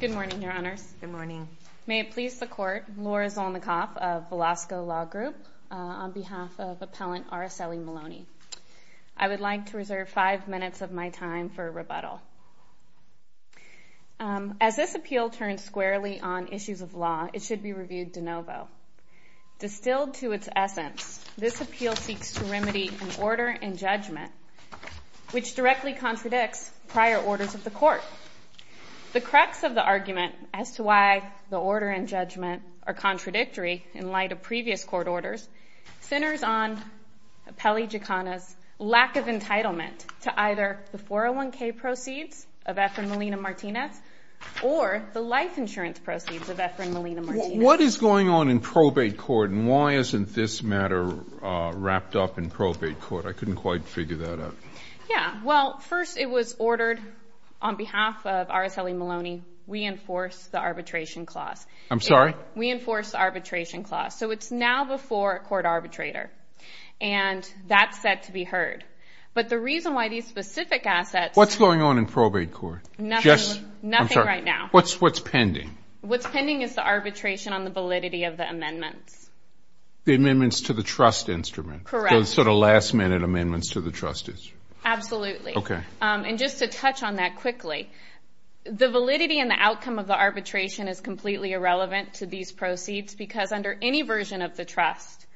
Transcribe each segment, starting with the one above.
Good morning, Your Honors. Good morning. May it please the Court, Laura Zolnikoff of Velasco Law Group, on behalf of Appellant Araceli Maloney. I would like to reserve five minutes of my time for rebuttal. As this appeal turns squarely on issues of law, it should be reviewed de novo. Distilled to its essence, this appeal seeks to remedy an order in judgment which directly contradicts prior orders of the Court. The crux of the argument as to why the order in judgment are contradictory in light of previous Court orders centers on Appellee Gicana's lack of entitlement to either the 401k proceeds of Efren Molina-Martinez or the life insurance proceeds of Efren Molina-Martinez. What is going on in probate court and why isn't this matter wrapped up in probate court? I couldn't quite figure that out. Yeah. Well, first it was ordered on behalf of Araceli Maloney, we enforce the arbitration clause. I'm sorry? We enforce the arbitration clause. So it's now before a court arbitrator. And that's set to be heard. But the reason why these specific assets What's going on in probate court? Nothing, nothing right now. What's pending? What's pending is the arbitration on the validity of the amendments. The amendments to the trust instrument? Correct. So the sort of last minute amendments to the trust instrument? Absolutely. Okay. And just to touch on that quickly, the validity and the outcome of the arbitration is completely irrelevant to these proceeds because under any version of the trust,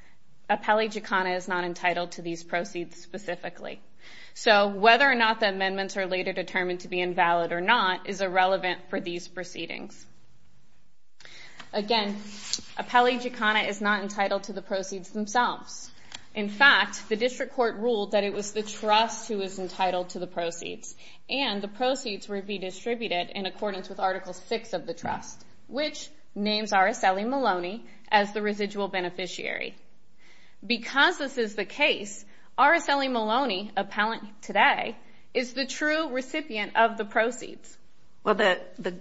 Appellee Gicana is not entitled to these proceeds specifically. So whether or not the amendments are later proceedings. Again, Appellee Gicana is not entitled to the proceeds themselves. In fact, the district court ruled that it was the trust who was entitled to the proceeds and the proceeds would be distributed in accordance with Article VI of the trust, which names Araceli Maloney as the residual beneficiary. Because this is the case, Araceli Maloney, appellant today, is the true recipient of the proceeds. Well, the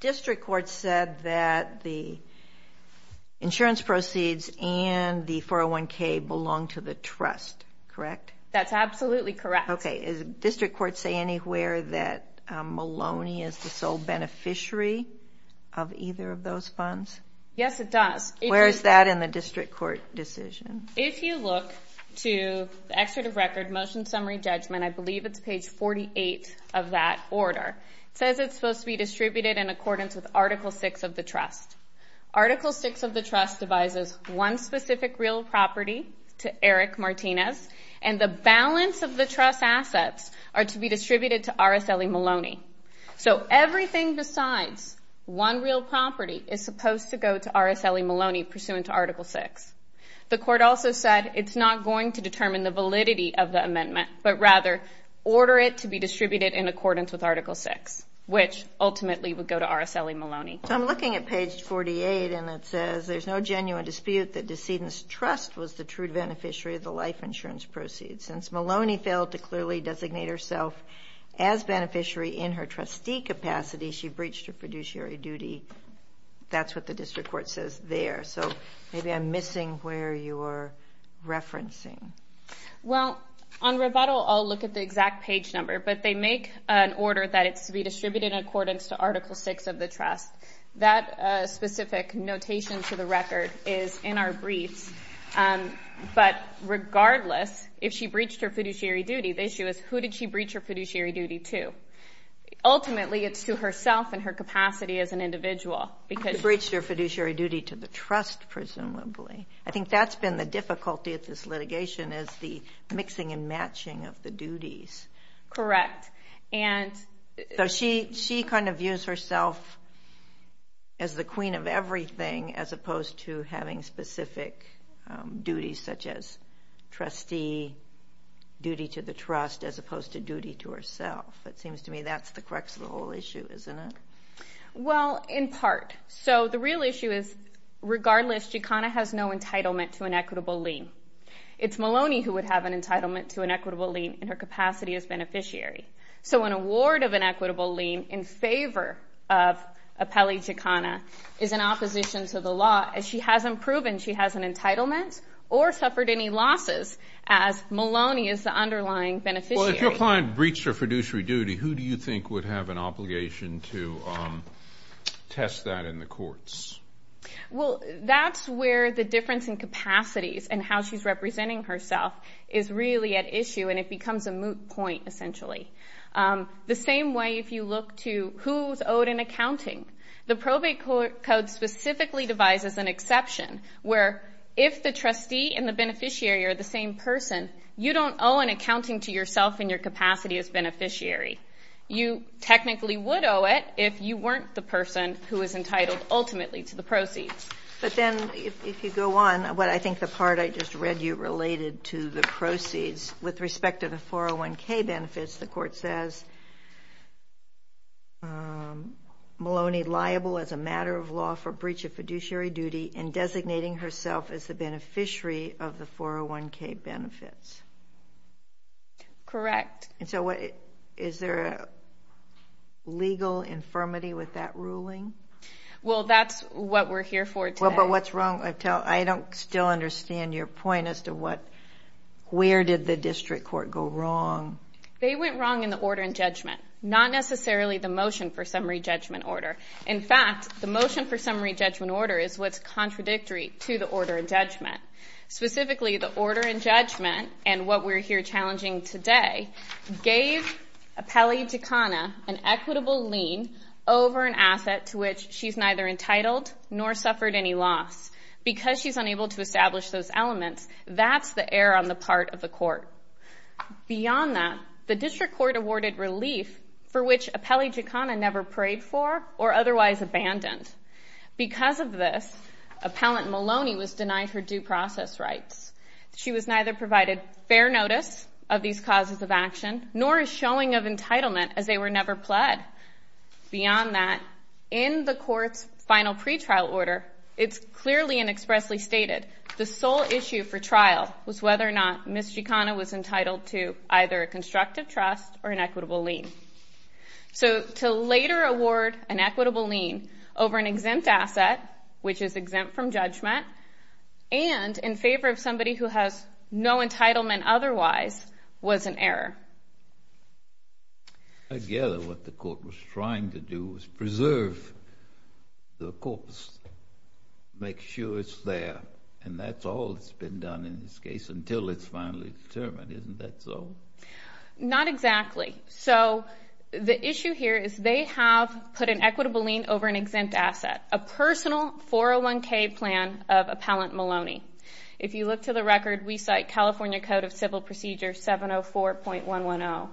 district court said that the insurance proceeds and the 401k belong to the trust, correct? That's absolutely correct. Okay. Does the district court say anywhere that Maloney is the sole beneficiary of either of those funds? Yes, it does. Where is that in the district court decision? If you look to the excerpt of record, motion summary judgment, I believe it's page 48 of that order. It says it's supposed to be distributed in accordance with Article VI of the trust. Article VI of the trust devises one specific real property to Eric Martinez, and the balance of the trust assets are to be distributed to Araceli Maloney. So everything besides one real property is supposed to go to Araceli Maloney pursuant to Article VI. The court also said it's not going to determine the validity of the amendment, but rather order it to be distributed in accordance with Article VI, which ultimately would go to Araceli Maloney. So I'm looking at page 48, and it says there's no genuine dispute that Decedent's Trust was the true beneficiary of the life insurance proceeds. Since Maloney failed to clearly designate herself as beneficiary in her trustee capacity, she breached her fiduciary duty. That's what the district court says there. So maybe I'm missing where you were referencing. Well, on rebuttal, I'll look at the exact page number, but they make an order that it's to be distributed in accordance to Article VI of the trust. That specific notation to the record is in our briefs. But regardless, if she breached her fiduciary duty, the issue is who did she breach her fiduciary duty to? Ultimately, it's to herself and her capacity as an individual, because... She breached her fiduciary duty to the trust, presumably. I think that's been the difficulty of this litigation, is the mixing and matching of the duties. Correct. So she kind of views herself as the queen of everything, as opposed to having specific duties, such as trustee, duty to the trust, as opposed to duty to herself. It seems to me that's the crux of the whole issue, isn't it? Well, in part. So the real issue is, regardless, Gicana has no entitlement to an equitable lien. It's Maloney who would have an entitlement to an equitable lien in her capacity as beneficiary. So an award of an equitable lien in favor of Appellee Gicana is in opposition to the law, as she hasn't proven she has an entitlement or suffered any losses, as Maloney is the underlying beneficiary. Well, if your client breached her fiduciary duty, who do you think would have an obligation to test that in the courts? Well, that's where the difference in capacities and how she's representing herself is really at issue, and it becomes a moot point, essentially. The same way, if you look to who's owed an accounting, the probate code specifically devises an exception, where if the trustee and the beneficiary are the same person, you don't owe an accounting to yourself in your capacity as beneficiary. You technically would owe it if you weren't the person who is entitled, ultimately, to the proceeds. But then, if you go on, what I think the part I just read you related to the proceeds, with respect to the 401k benefits, the court says, Maloney liable as a matter of law for breach of fiduciary duty and designating herself as the beneficiary of the 401k benefits. Correct. Is there a legal infirmity with that ruling? Well, that's what we're here for today. Well, but what's wrong? I don't still understand your point as to where did the district court go wrong. They went wrong in the order and judgment, not necessarily the motion for summary judgment order is what's contradictory to the order and judgment. Specifically, the order and judgment, and what we're here challenging today, gave Apelli Giaccona an equitable lien over an asset to which she's neither entitled nor suffered any loss. Because she's unable to establish those elements, that's the error on the part of the court. Beyond that, the district court awarded relief for which Apelli Giaccona never prayed for or otherwise abandoned. Because of this, Appellant Maloney was denied her due process rights. She was neither provided fair notice of these causes of action nor a showing of entitlement as they were never pled. Beyond that, in the court's final pretrial order, it's clearly and expressly stated the sole issue for trial was whether or not Ms. Giaccona was entitled to either a constructive trust or an equitable lien. So, to later award an equitable lien over an exempt asset, which is exempt from judgment, and in favor of somebody who has no entitlement otherwise, was an error. I gather what the court was trying to do was preserve the corpse, make sure it's there, and that's all that's been done in this case until it's finally determined. Isn't that so? Not exactly. So, the issue here is they have put an equitable lien over an exempt asset, a personal 401k plan of Appellant Maloney. If you look to the record, we cite California Code of Civil Procedure 704.110,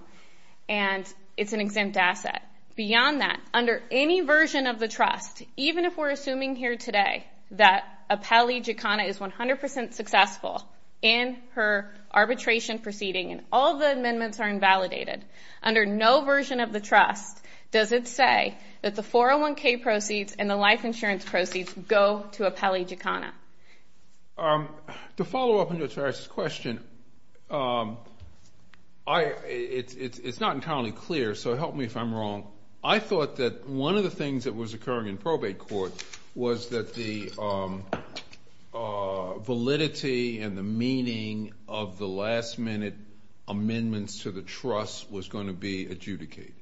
and it's an exempt asset. Beyond that, under any version of the trust, even if we're assuming here today that Apelli Giaccona is 100% successful in her arbitration proceeding and all the amendments are invalidated, under no version of the trust does it say that the 401k proceeds and the life insurance proceeds go to Apelli Giaccona. To follow up on your first question, it's not entirely clear, so help me if I'm wrong. I thought that one of the things that was occurring in probate court was that the validity and the meaning of the last-minute amendments to the trust was going to be adjudicated.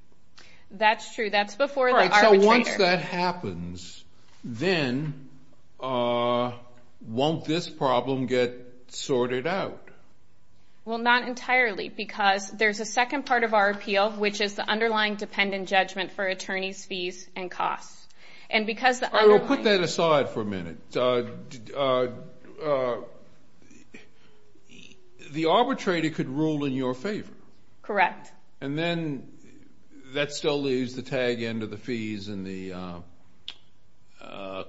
That's true. That's before the arbitrator. All right, so once that happens, then won't this problem get sorted out? Well, not entirely, because there's a second part of our appeal, which is the underlying dependent judgment for attorneys' fees and costs. And because the underlying... The arbitrator could rule in your favor. Correct. And then that still leaves the tag end of the fees and the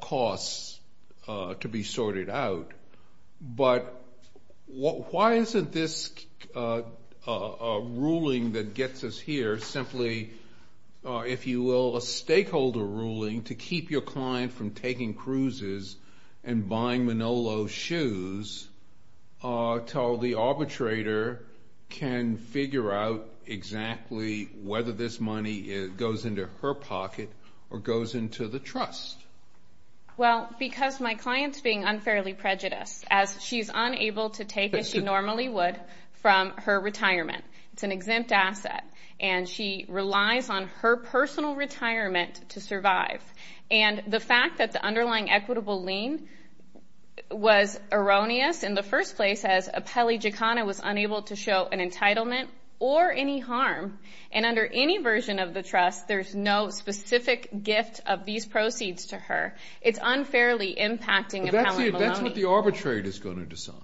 costs to be sorted out. But why isn't this ruling that gets us here simply, if you will, a stakeholder ruling to keep your client from taking cruises and buying Manolo's shoes until the arbitrator can figure out exactly whether this money goes into her pocket or goes into the trust? Well, because my client's being unfairly prejudiced, as she's unable to take, as she normally would, from her retirement. It's an exempt asset. And she relies on her personal retirement to survive. And the fact that the underlying equitable lien was erroneous in the first place, as Appellee Giaccona was unable to show an entitlement or any harm. And under any version of the trust, there's no specific gift of these proceeds to her. It's unfairly impacting Appellee Maloney. But that's what the arbitrator's going to decide.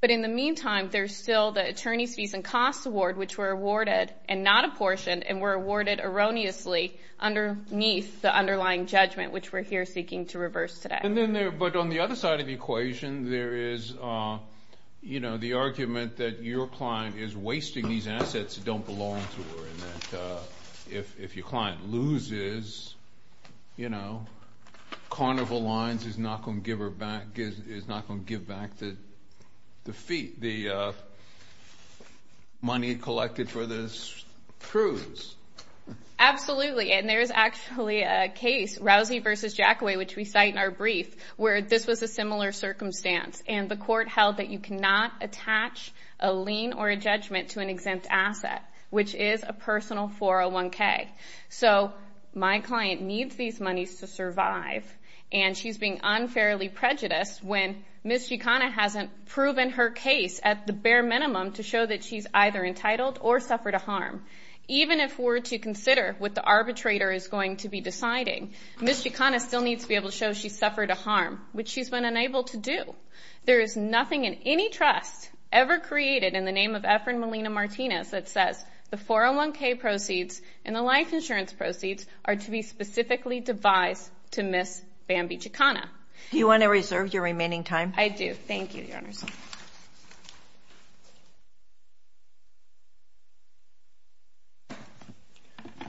But in the meantime, there's still the attorneys' fees and costs award, which were awarded, and not apportioned, and were awarded erroneously underneath the underlying judgment, which we're here seeking to reverse today. But on the other side of the equation, there is the argument that your client is wasting these assets that don't belong to her, and that if your client loses, you know, Carnival Lines is not going to give back the fee, the money collected for this cruise. Absolutely. And there's actually a case, Rousey v. Jackaway, which we cite in our brief, where this was a similar circumstance. And the court held that you cannot attach a lien or a judgment to an exempt asset, which is a personal 401k. So my client needs these monies to survive, and she's being unfairly prejudiced when Ms. Chicana hasn't proven her case at the bare minimum to show that she's either entitled or suffered a harm. Even if we're to consider what the arbitrator is going to be deciding, Ms. Chicana still needs to be able to show she suffered a harm, which she's been unable to do. There is nothing in any trust ever created in the name of Efren Molina-Martinez that says the 401k proceeds and the life insurance proceeds are to be specifically devised to Ms. Bambi Chicana. Do you want to reserve your remaining time? I do. Thank you, Your Honors. Good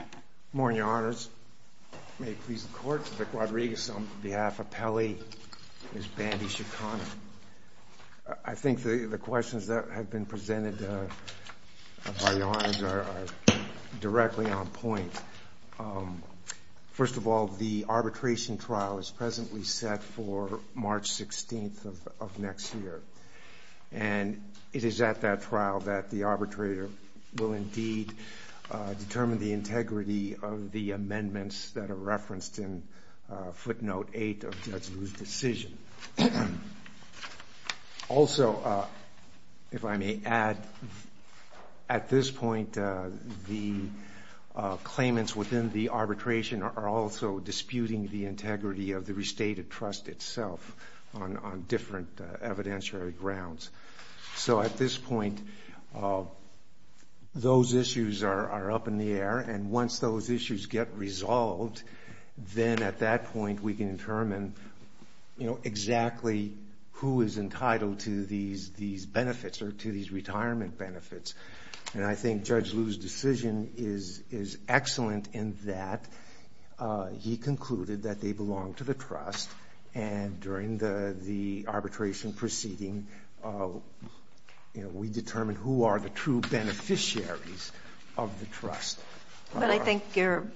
morning, Your Honors. May it please the Court, Mr. Rodriguez on behalf of Pelley, Ms. Bambi Chicana. I think the questions that have been presented by Your Honors are directly on point. First of all, the arbitration trial is presently set for March 16th of next year, and it is at that trial that the arbitrator will indeed determine the integrity of the amendments that are referenced in footnote 8 of Judge Liu's decision. Also, if I may add, at this point the claimants within the arbitration are also disputing the integrity of the restated trust itself on different evidentiary grounds. So at this point, those issues are up in the air, and once those issues get resolved, then at that point we can determine exactly who is entitled to these benefits or to these retirement benefits. And I think Judge Liu's decision is excellent in that he concluded that they belong to the trust, and during the arbitration proceeding, we determine who are the true beneficiaries of the trust. But I think your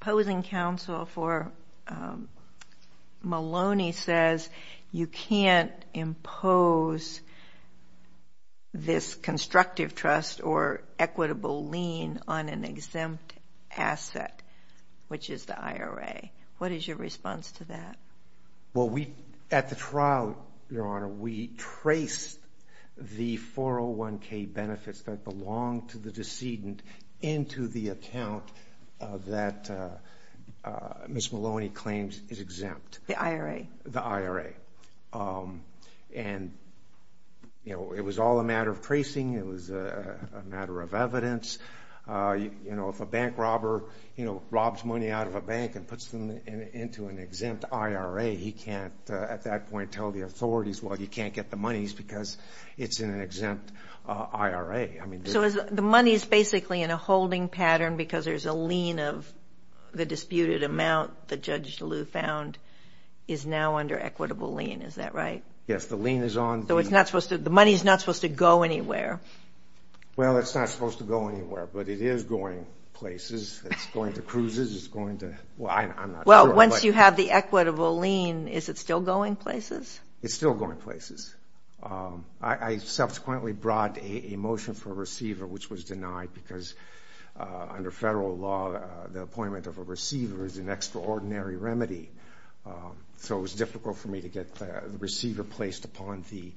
opposing counsel for Maloney says you can't impose this constructive trust or equitable lien on an exempt asset, which is the IRA. What is your response to that? Well, at the trial, Your Honor, we traced the 401k benefits that belonged to the decedent into the account that Ms. Maloney claims is exempt. The IRA. The IRA. And it was all a matter of tracing. It was a matter of evidence. You know, if a bank robber, you know, robs money out of a bank and puts them into an exempt IRA, he can't at that point tell the authorities, well, you can't get the money because it's in an exempt IRA. So the money is basically in a holding pattern because there's a lien of the disputed amount that Judge Liu found is now under equitable lien. Is that right? Yes, the lien is on. So the money is not supposed to go anywhere. Well, it's not supposed to go anywhere, but it is going places. It's going to cruises. It's going to, well, I'm not sure. Well, once you have the equitable lien, is it still going places? It's still going places. I subsequently brought a motion for a receiver, which was denied because under federal law, the appointment of a receiver is an extraordinary remedy. So it was difficult for me to get the receiver placed upon the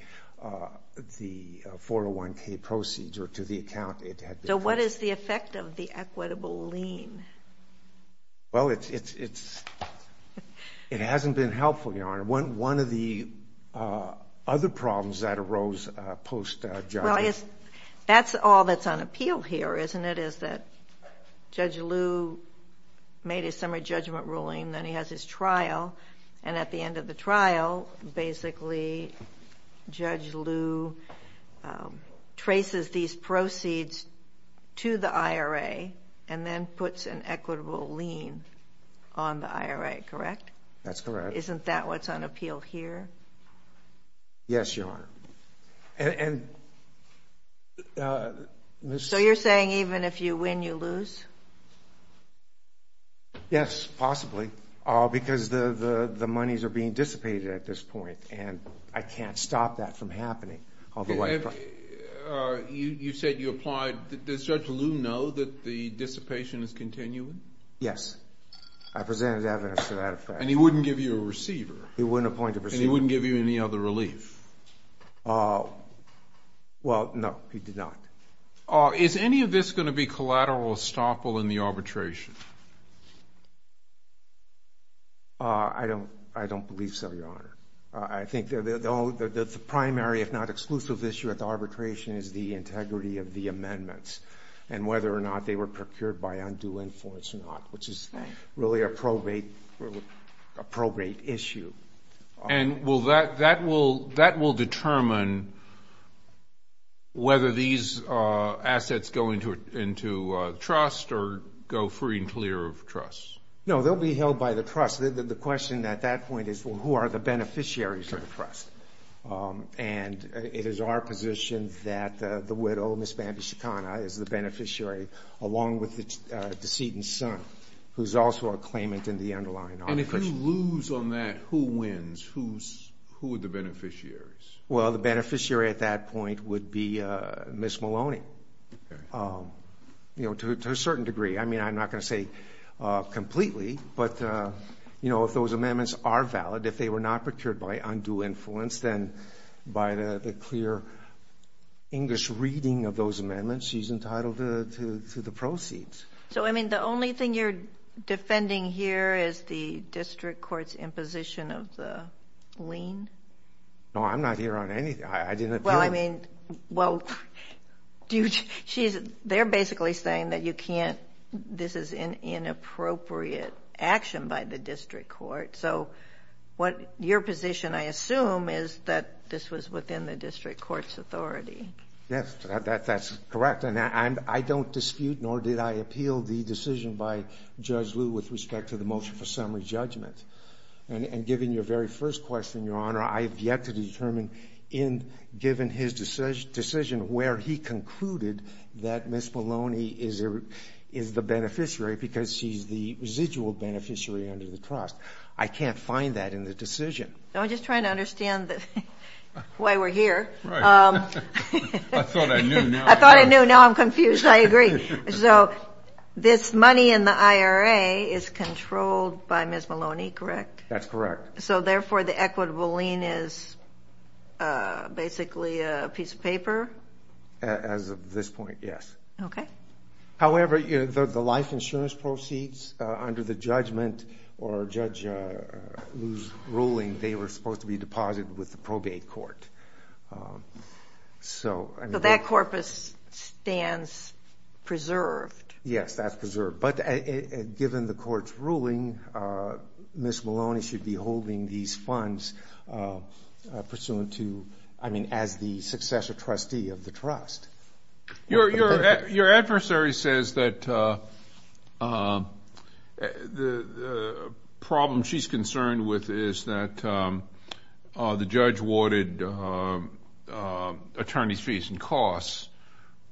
401K proceeds or to the account it had been placed. So what is the effect of the equitable lien? Well, it hasn't been helpful, Your Honor. One of the other problems that arose post-judgmental. Well, that's all that's on appeal here, isn't it, is that Judge Liu made a summary judgment ruling, then he has his trial, and at the end of the trial, basically, Judge Liu traces these proceeds to the IRA and then puts an equitable lien on the IRA, correct? That's correct. Isn't that what's on appeal here? Yes, Your Honor. So you're saying even if you win, you lose? Yes, possibly, because the monies are being dissipated at this point, and I can't stop that from happening. You said you applied. Does Judge Liu know that the dissipation is continuing? Yes. I presented evidence to that effect. He wouldn't appoint a receiver. And he wouldn't give you any other relief? Well, no, he did not. Is any of this going to be collateral estoppel in the arbitration? I don't believe so, Your Honor. I think the primary, if not exclusive, issue at the arbitration is the integrity of the amendments and whether or not they were procured by undue influence or not, which is really a probate issue. And that will determine whether these assets go into trust or go free and clear of trust? No, they'll be held by the trust. The question at that point is, well, who are the beneficiaries of the trust? And it is our position that the widow, Ms. Bandy Shekana, is the beneficiary, along with the decedent son, who is also a claimant in the underlying arbitration. And if you lose on that, who wins? Who are the beneficiaries? Well, the beneficiary at that point would be Ms. Maloney, to a certain degree. I mean, I'm not going to say completely, but, you know, if those amendments are valid, if they were not procured by undue influence, then by the clear English reading of those amendments, she's entitled to the proceeds. So, I mean, the only thing you're defending here is the district court's imposition of the lien? No, I'm not here on anything. Well, I mean, well, they're basically saying that you can't, this is an inappropriate action by the district court. So your position, I assume, is that this was within the district court's authority. Yes, that's correct. And I don't dispute, nor did I appeal the decision by Judge Liu with respect to the motion for summary judgment. And given your very first question, Your Honor, I have yet to determine, given his decision, where he concluded that Ms. Maloney is the beneficiary because she's the residual beneficiary under the trust. I can't find that in the decision. I'm just trying to understand why we're here. Right. I thought I knew. I thought I knew. Now I'm confused. I agree. So this money in the IRA is controlled by Ms. Maloney, correct? That's correct. So, therefore, the equitable lien is basically a piece of paper? As of this point, yes. Okay. However, the life insurance proceeds under the judgment or Judge Liu's ruling, they were supposed to be deposited with the probate court. So that corpus stands preserved. Yes, that's preserved. But given the court's ruling, Ms. Maloney should be holding these funds pursuant to, I mean, as the successor trustee of the trust. Your adversary says that the problem she's concerned with is that the judge awarded attorney's fees and costs,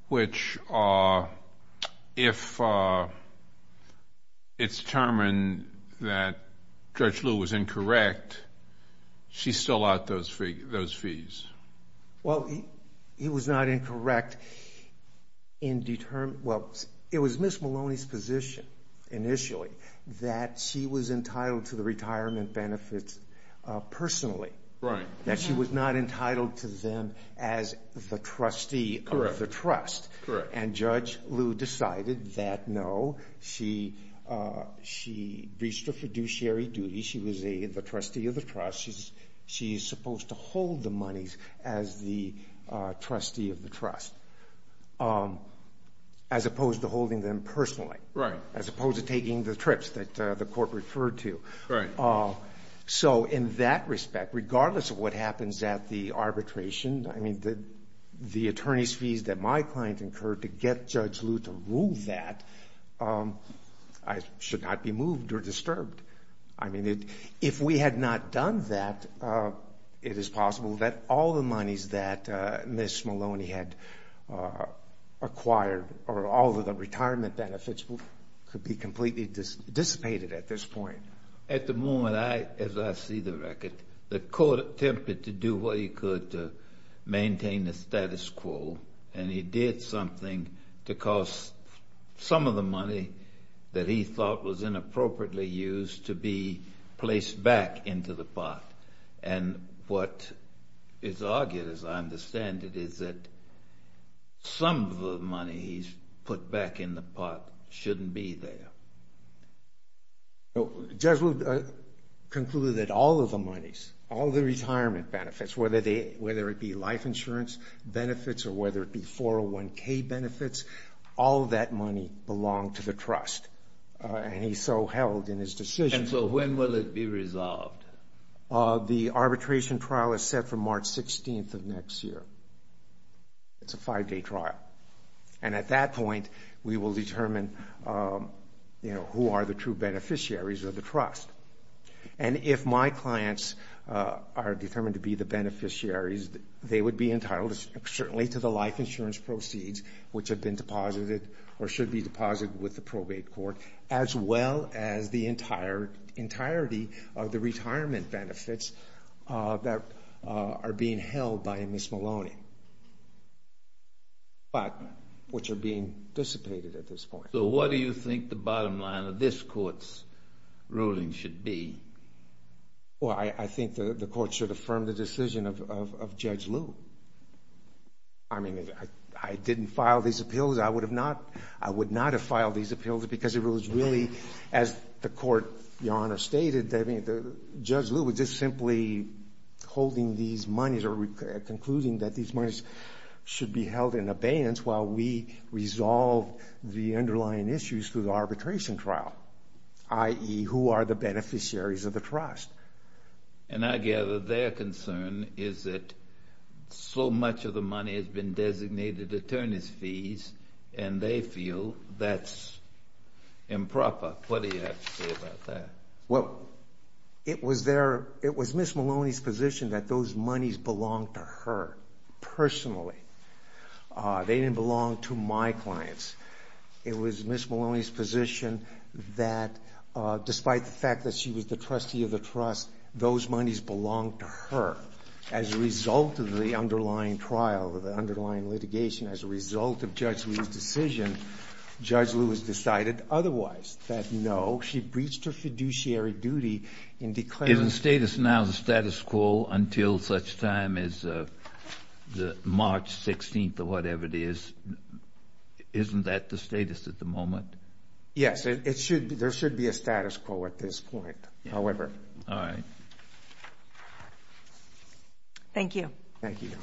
which if it's determined that Judge Liu was incorrect, she's still out those fees. Well, he was not incorrect in determining. Well, it was Ms. Maloney's position initially that she was entitled to the retirement benefits personally. Right. That she was not entitled to them as the trustee of the trust. Correct. And Judge Liu decided that, no, she reached a fiduciary duty. She was the trustee of the trust. She's supposed to hold the monies as the trustee of the trust as opposed to holding them personally. Right. As opposed to taking the trips that the court referred to. Right. So in that respect, regardless of what happens at the arbitration, I mean, the attorney's fees that my client incurred to get Judge Liu to rule that should not be moved or disturbed. I mean, if we had not done that, it is possible that all the monies that Ms. Maloney had acquired or all of the retirement benefits could be completely dissipated at this point. At the moment, as I see the record, the court attempted to do what it could to maintain the status quo, and he did something to cause some of the money that he thought was inappropriately used to be placed back into the pot. And what is argued, as I understand it, is that some of the money he's put back in the pot shouldn't be there. Judge Liu concluded that all of the monies, all the retirement benefits, whether it be life insurance benefits or whether it be 401K benefits, all of that money belonged to the trust. And he so held in his decision. And so when will it be resolved? The arbitration trial is set for March 16th of next year. It's a five-day trial. And at that point, we will determine who are the true beneficiaries of the trust. And if my clients are determined to be the beneficiaries, they would be entitled certainly to the life insurance proceeds, which have been deposited or should be deposited with the probate court, as well as the entirety of the retirement benefits that are being held by Ms. Maloney, but which are being dissipated at this point. So what do you think the bottom line of this court's ruling should be? Well, I think the court should affirm the decision of Judge Liu. I mean, I didn't file these appeals. I would not have filed these appeals because it was really, as the court, Your Honor, stated, that Judge Liu was just simply holding these monies or concluding that these monies should be held in abeyance while we resolve the underlying issues through the arbitration trial, i.e., who are the beneficiaries of the trust. And I gather their concern is that so much of the money has been designated attorney's fees, and they feel that's improper. What do you have to say about that? Well, it was Ms. Maloney's position that those monies belonged to her personally. They didn't belong to my clients. It was Ms. Maloney's position that, despite the fact that she was the trustee of the trust, those monies belonged to her. As a result of the underlying trial, the underlying litigation, as a result of Judge Liu's decision, Judge Liu has decided otherwise, that, no, she breached her fiduciary duty in declaring that. Now the status quo until such time as March 16th or whatever it is, isn't that the status at the moment? Yes, there should be a status quo at this point, however. All right. Thank you. Thank you. Thank you.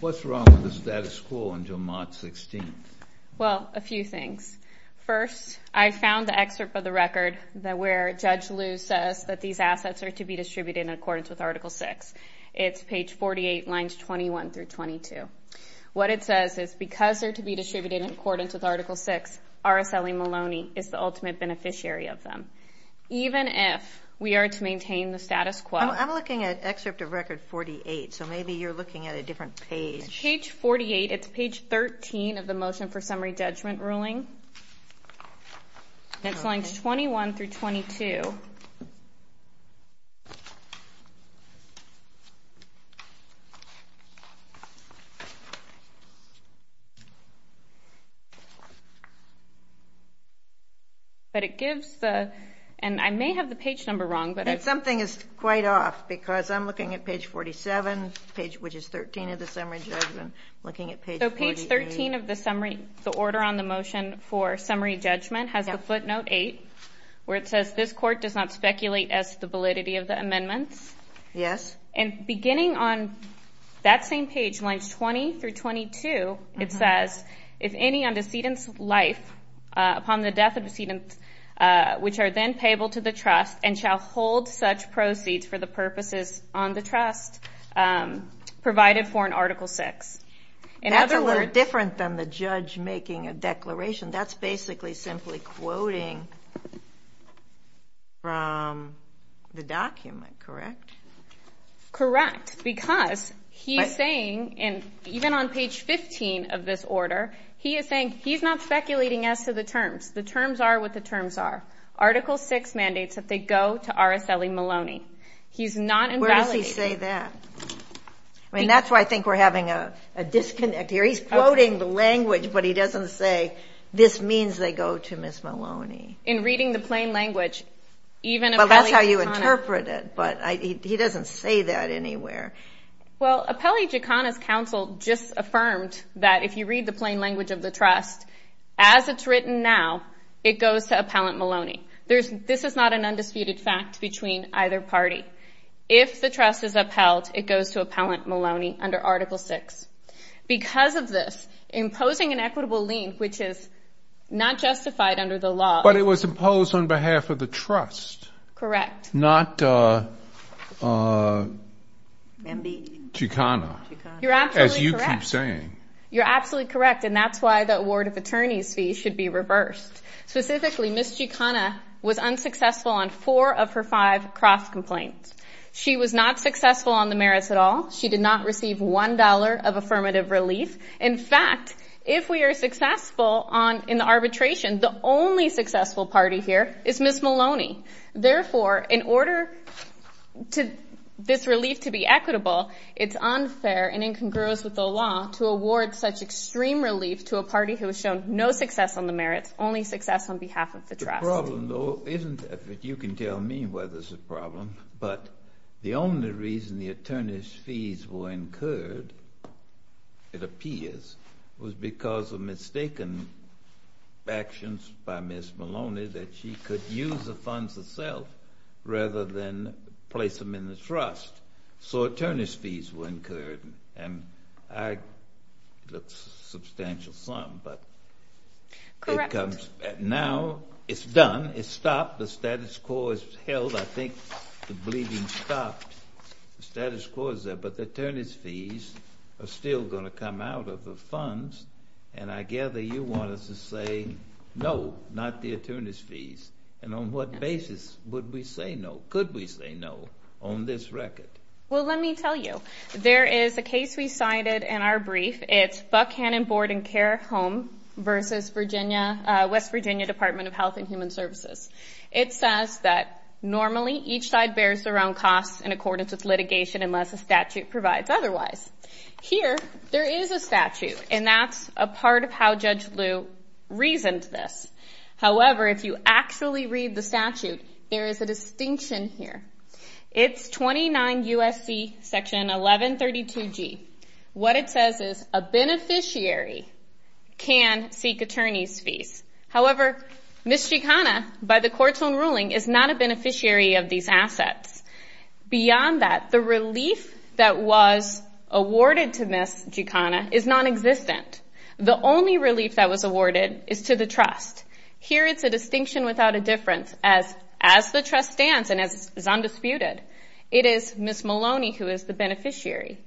What's wrong with the status quo until March 16th? Well, a few things. First, I found the excerpt of the record where Judge Liu says that these assets are to be distributed in accordance with Article VI. It's page 48, lines 21 through 22. What it says is, because they're to be distributed in accordance with Article VI, RSLE Maloney is the ultimate beneficiary of them. Even if we are to maintain the status quo. I'm looking at excerpt of record 48, so maybe you're looking at a different page. It's page 48. It's page 13 of the motion for summary judgment ruling. It's lines 21 through 22. But it gives the, and I may have the page number wrong. Something is quite off because I'm looking at page 47, which is 13 of the summary judgment, looking at page 48. So page 13 of the order on the motion for summary judgment has the footnote 8, where it says, this court does not speculate as to the validity of the amendments. Yes. And beginning on that same page, lines 20 through 22, it says, if any on decedent's life upon the death of a decedent, which are then payable to the trust, and shall hold such proceeds for the purposes on the trust provided for in Article VI. That's a little different than the judge making a declaration. That's basically simply quoting from the document, correct? Correct, because he's saying, even on page 15 of this order, he is saying he's not speculating as to the terms. The terms are what the terms are. Article VI mandates that they go to RSLE Maloney. He's not invalidating. Where does he say that? I mean, that's why I think we're having a disconnect here. He's quoting the language, but he doesn't say, this means they go to Ms. Maloney. In reading the plain language, even Appelli Giaccona. Well, that's how you interpret it, but he doesn't say that anywhere. Well, Appelli Giaccona's counsel just affirmed that if you read the plain language of the trust, as it's written now, it goes to appellant Maloney. This is not an undisputed fact between either party. If the trust is upheld, it goes to appellant Maloney under Article VI. Because of this, imposing an equitable lien, which is not justified under the law. But it was imposed on behalf of the trust. Correct. Not Giaccona. You're absolutely correct. As you keep saying. You're absolutely correct, and that's why the award of attorneys fee should be reversed. Specifically, Ms. Giaccona was unsuccessful on four of her five cross complaints. She was not successful on the merits at all. She did not receive $1 of affirmative relief. In fact, if we are successful in the arbitration, the only successful party here is Ms. Maloney. Therefore, in order for this relief to be equitable, it's unfair and incongruous with the law to award such extreme relief to a party who has shown no success on the merits, only success on behalf of the trust. The problem, though, isn't that you can tell me whether it's a problem, but the only reason the attorneys fees were incurred, it appears, was because of mistaken actions by Ms. Maloney that she could use the funds herself rather than place them in the trust. So attorneys fees were incurred. And it's a substantial sum, but now it's done. It's stopped. The status quo is held. I think the bleeding stopped. The status quo is there, but the attorneys fees are still going to come out of the funds, and I gather you want us to say no, not the attorneys fees. And on what basis would we say no? Well, let me tell you. There is a case we cited in our brief. It's Buckhannon Board and Care Home versus West Virginia Department of Health and Human Services. It says that normally each side bears their own costs in accordance with litigation unless a statute provides otherwise. Here, there is a statute, and that's a part of how Judge Liu reasoned this. However, if you actually read the statute, there is a distinction here. It's 29 U.S.C. section 1132G. What it says is a beneficiary can seek attorneys fees. However, Ms. Gikana, by the court's own ruling, is not a beneficiary of these assets. Beyond that, the relief that was awarded to Ms. Gikana is nonexistent. The only relief that was awarded is to the trust. Here, it's a distinction without a difference as the trust stands and is undisputed. It is Ms. Maloney who is the beneficiary.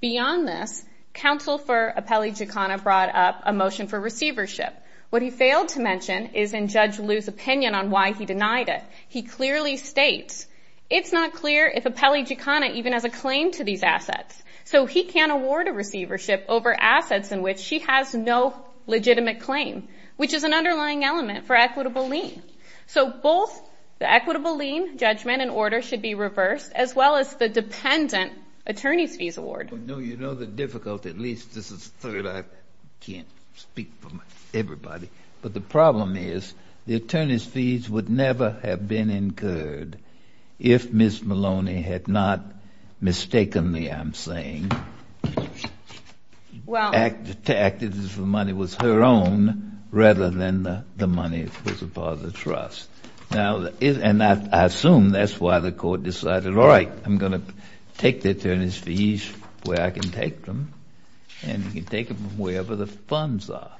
Beyond this, counsel for Apelli Gikana brought up a motion for receivership. What he failed to mention is in Judge Liu's opinion on why he denied it. He clearly states, it's not clear if Apelli Gikana even has a claim to these assets, so he can't award a receivership over assets in which she has no legitimate claim, which is an underlying element for equitable lien. So both the equitable lien judgment and order should be reversed, as well as the dependent attorneys fees award. No, you know the difficulty. At least this is the third. I can't speak for everybody. But the problem is the attorneys fees would never have been incurred if Ms. Maloney had not mistakenly, I'm saying, acted as if the money was her own rather than the money was a part of the trust. Now, and I assume that's why the court decided, all right, I'm going to take the attorneys fees where I can take them. And you can take them wherever the funds are.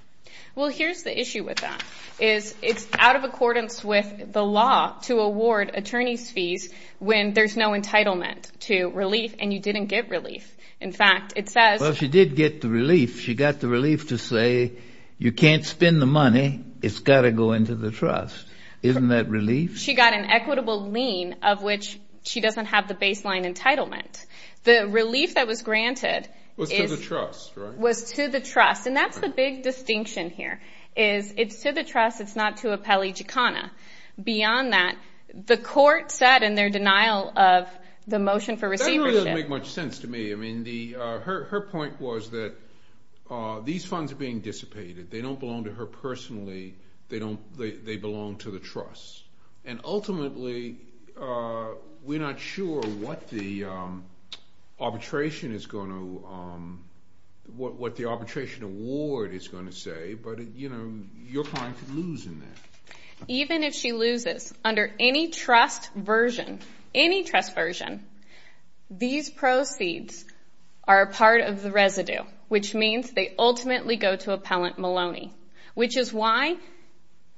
Well, here's the issue with that, is it's out of accordance with the law to award attorneys fees when there's no entitlement to relief and you didn't get relief. In fact, it says. Well, she did get the relief. She got the relief to say you can't spend the money. It's got to go into the trust. Isn't that relief? She got an equitable lien of which she doesn't have the baseline entitlement. The relief that was granted. Was to the trust, right? Was to the trust. And that's the big distinction here, is it's to the trust. It's not to a pellejicana. Beyond that, the court said in their denial of the motion for receivership. That doesn't really make much sense to me. I mean, her point was that these funds are being dissipated. They don't belong to her personally. They belong to the trust. And ultimately, we're not sure what the arbitration is going to say, but you're going to lose in that. Even if she loses, under any trust version, any trust version, these proceeds are a part of the residue, which means they ultimately go to appellant Maloney, which is why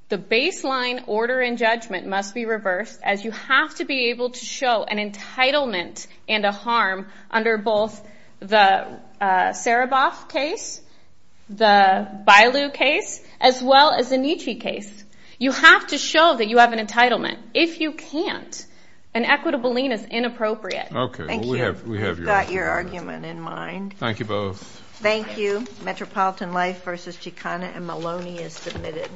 the baseline order and judgment must be reversed, as you have to be able to show an entitlement and a harm under both the Bailu case as well as the Nietzsche case. You have to show that you have an entitlement. If you can't, an equitable lien is inappropriate. Okay. Thank you. We've got your argument in mind. Thank you both. Thank you. Metropolitan Life versus Chicana and Maloney is submitted.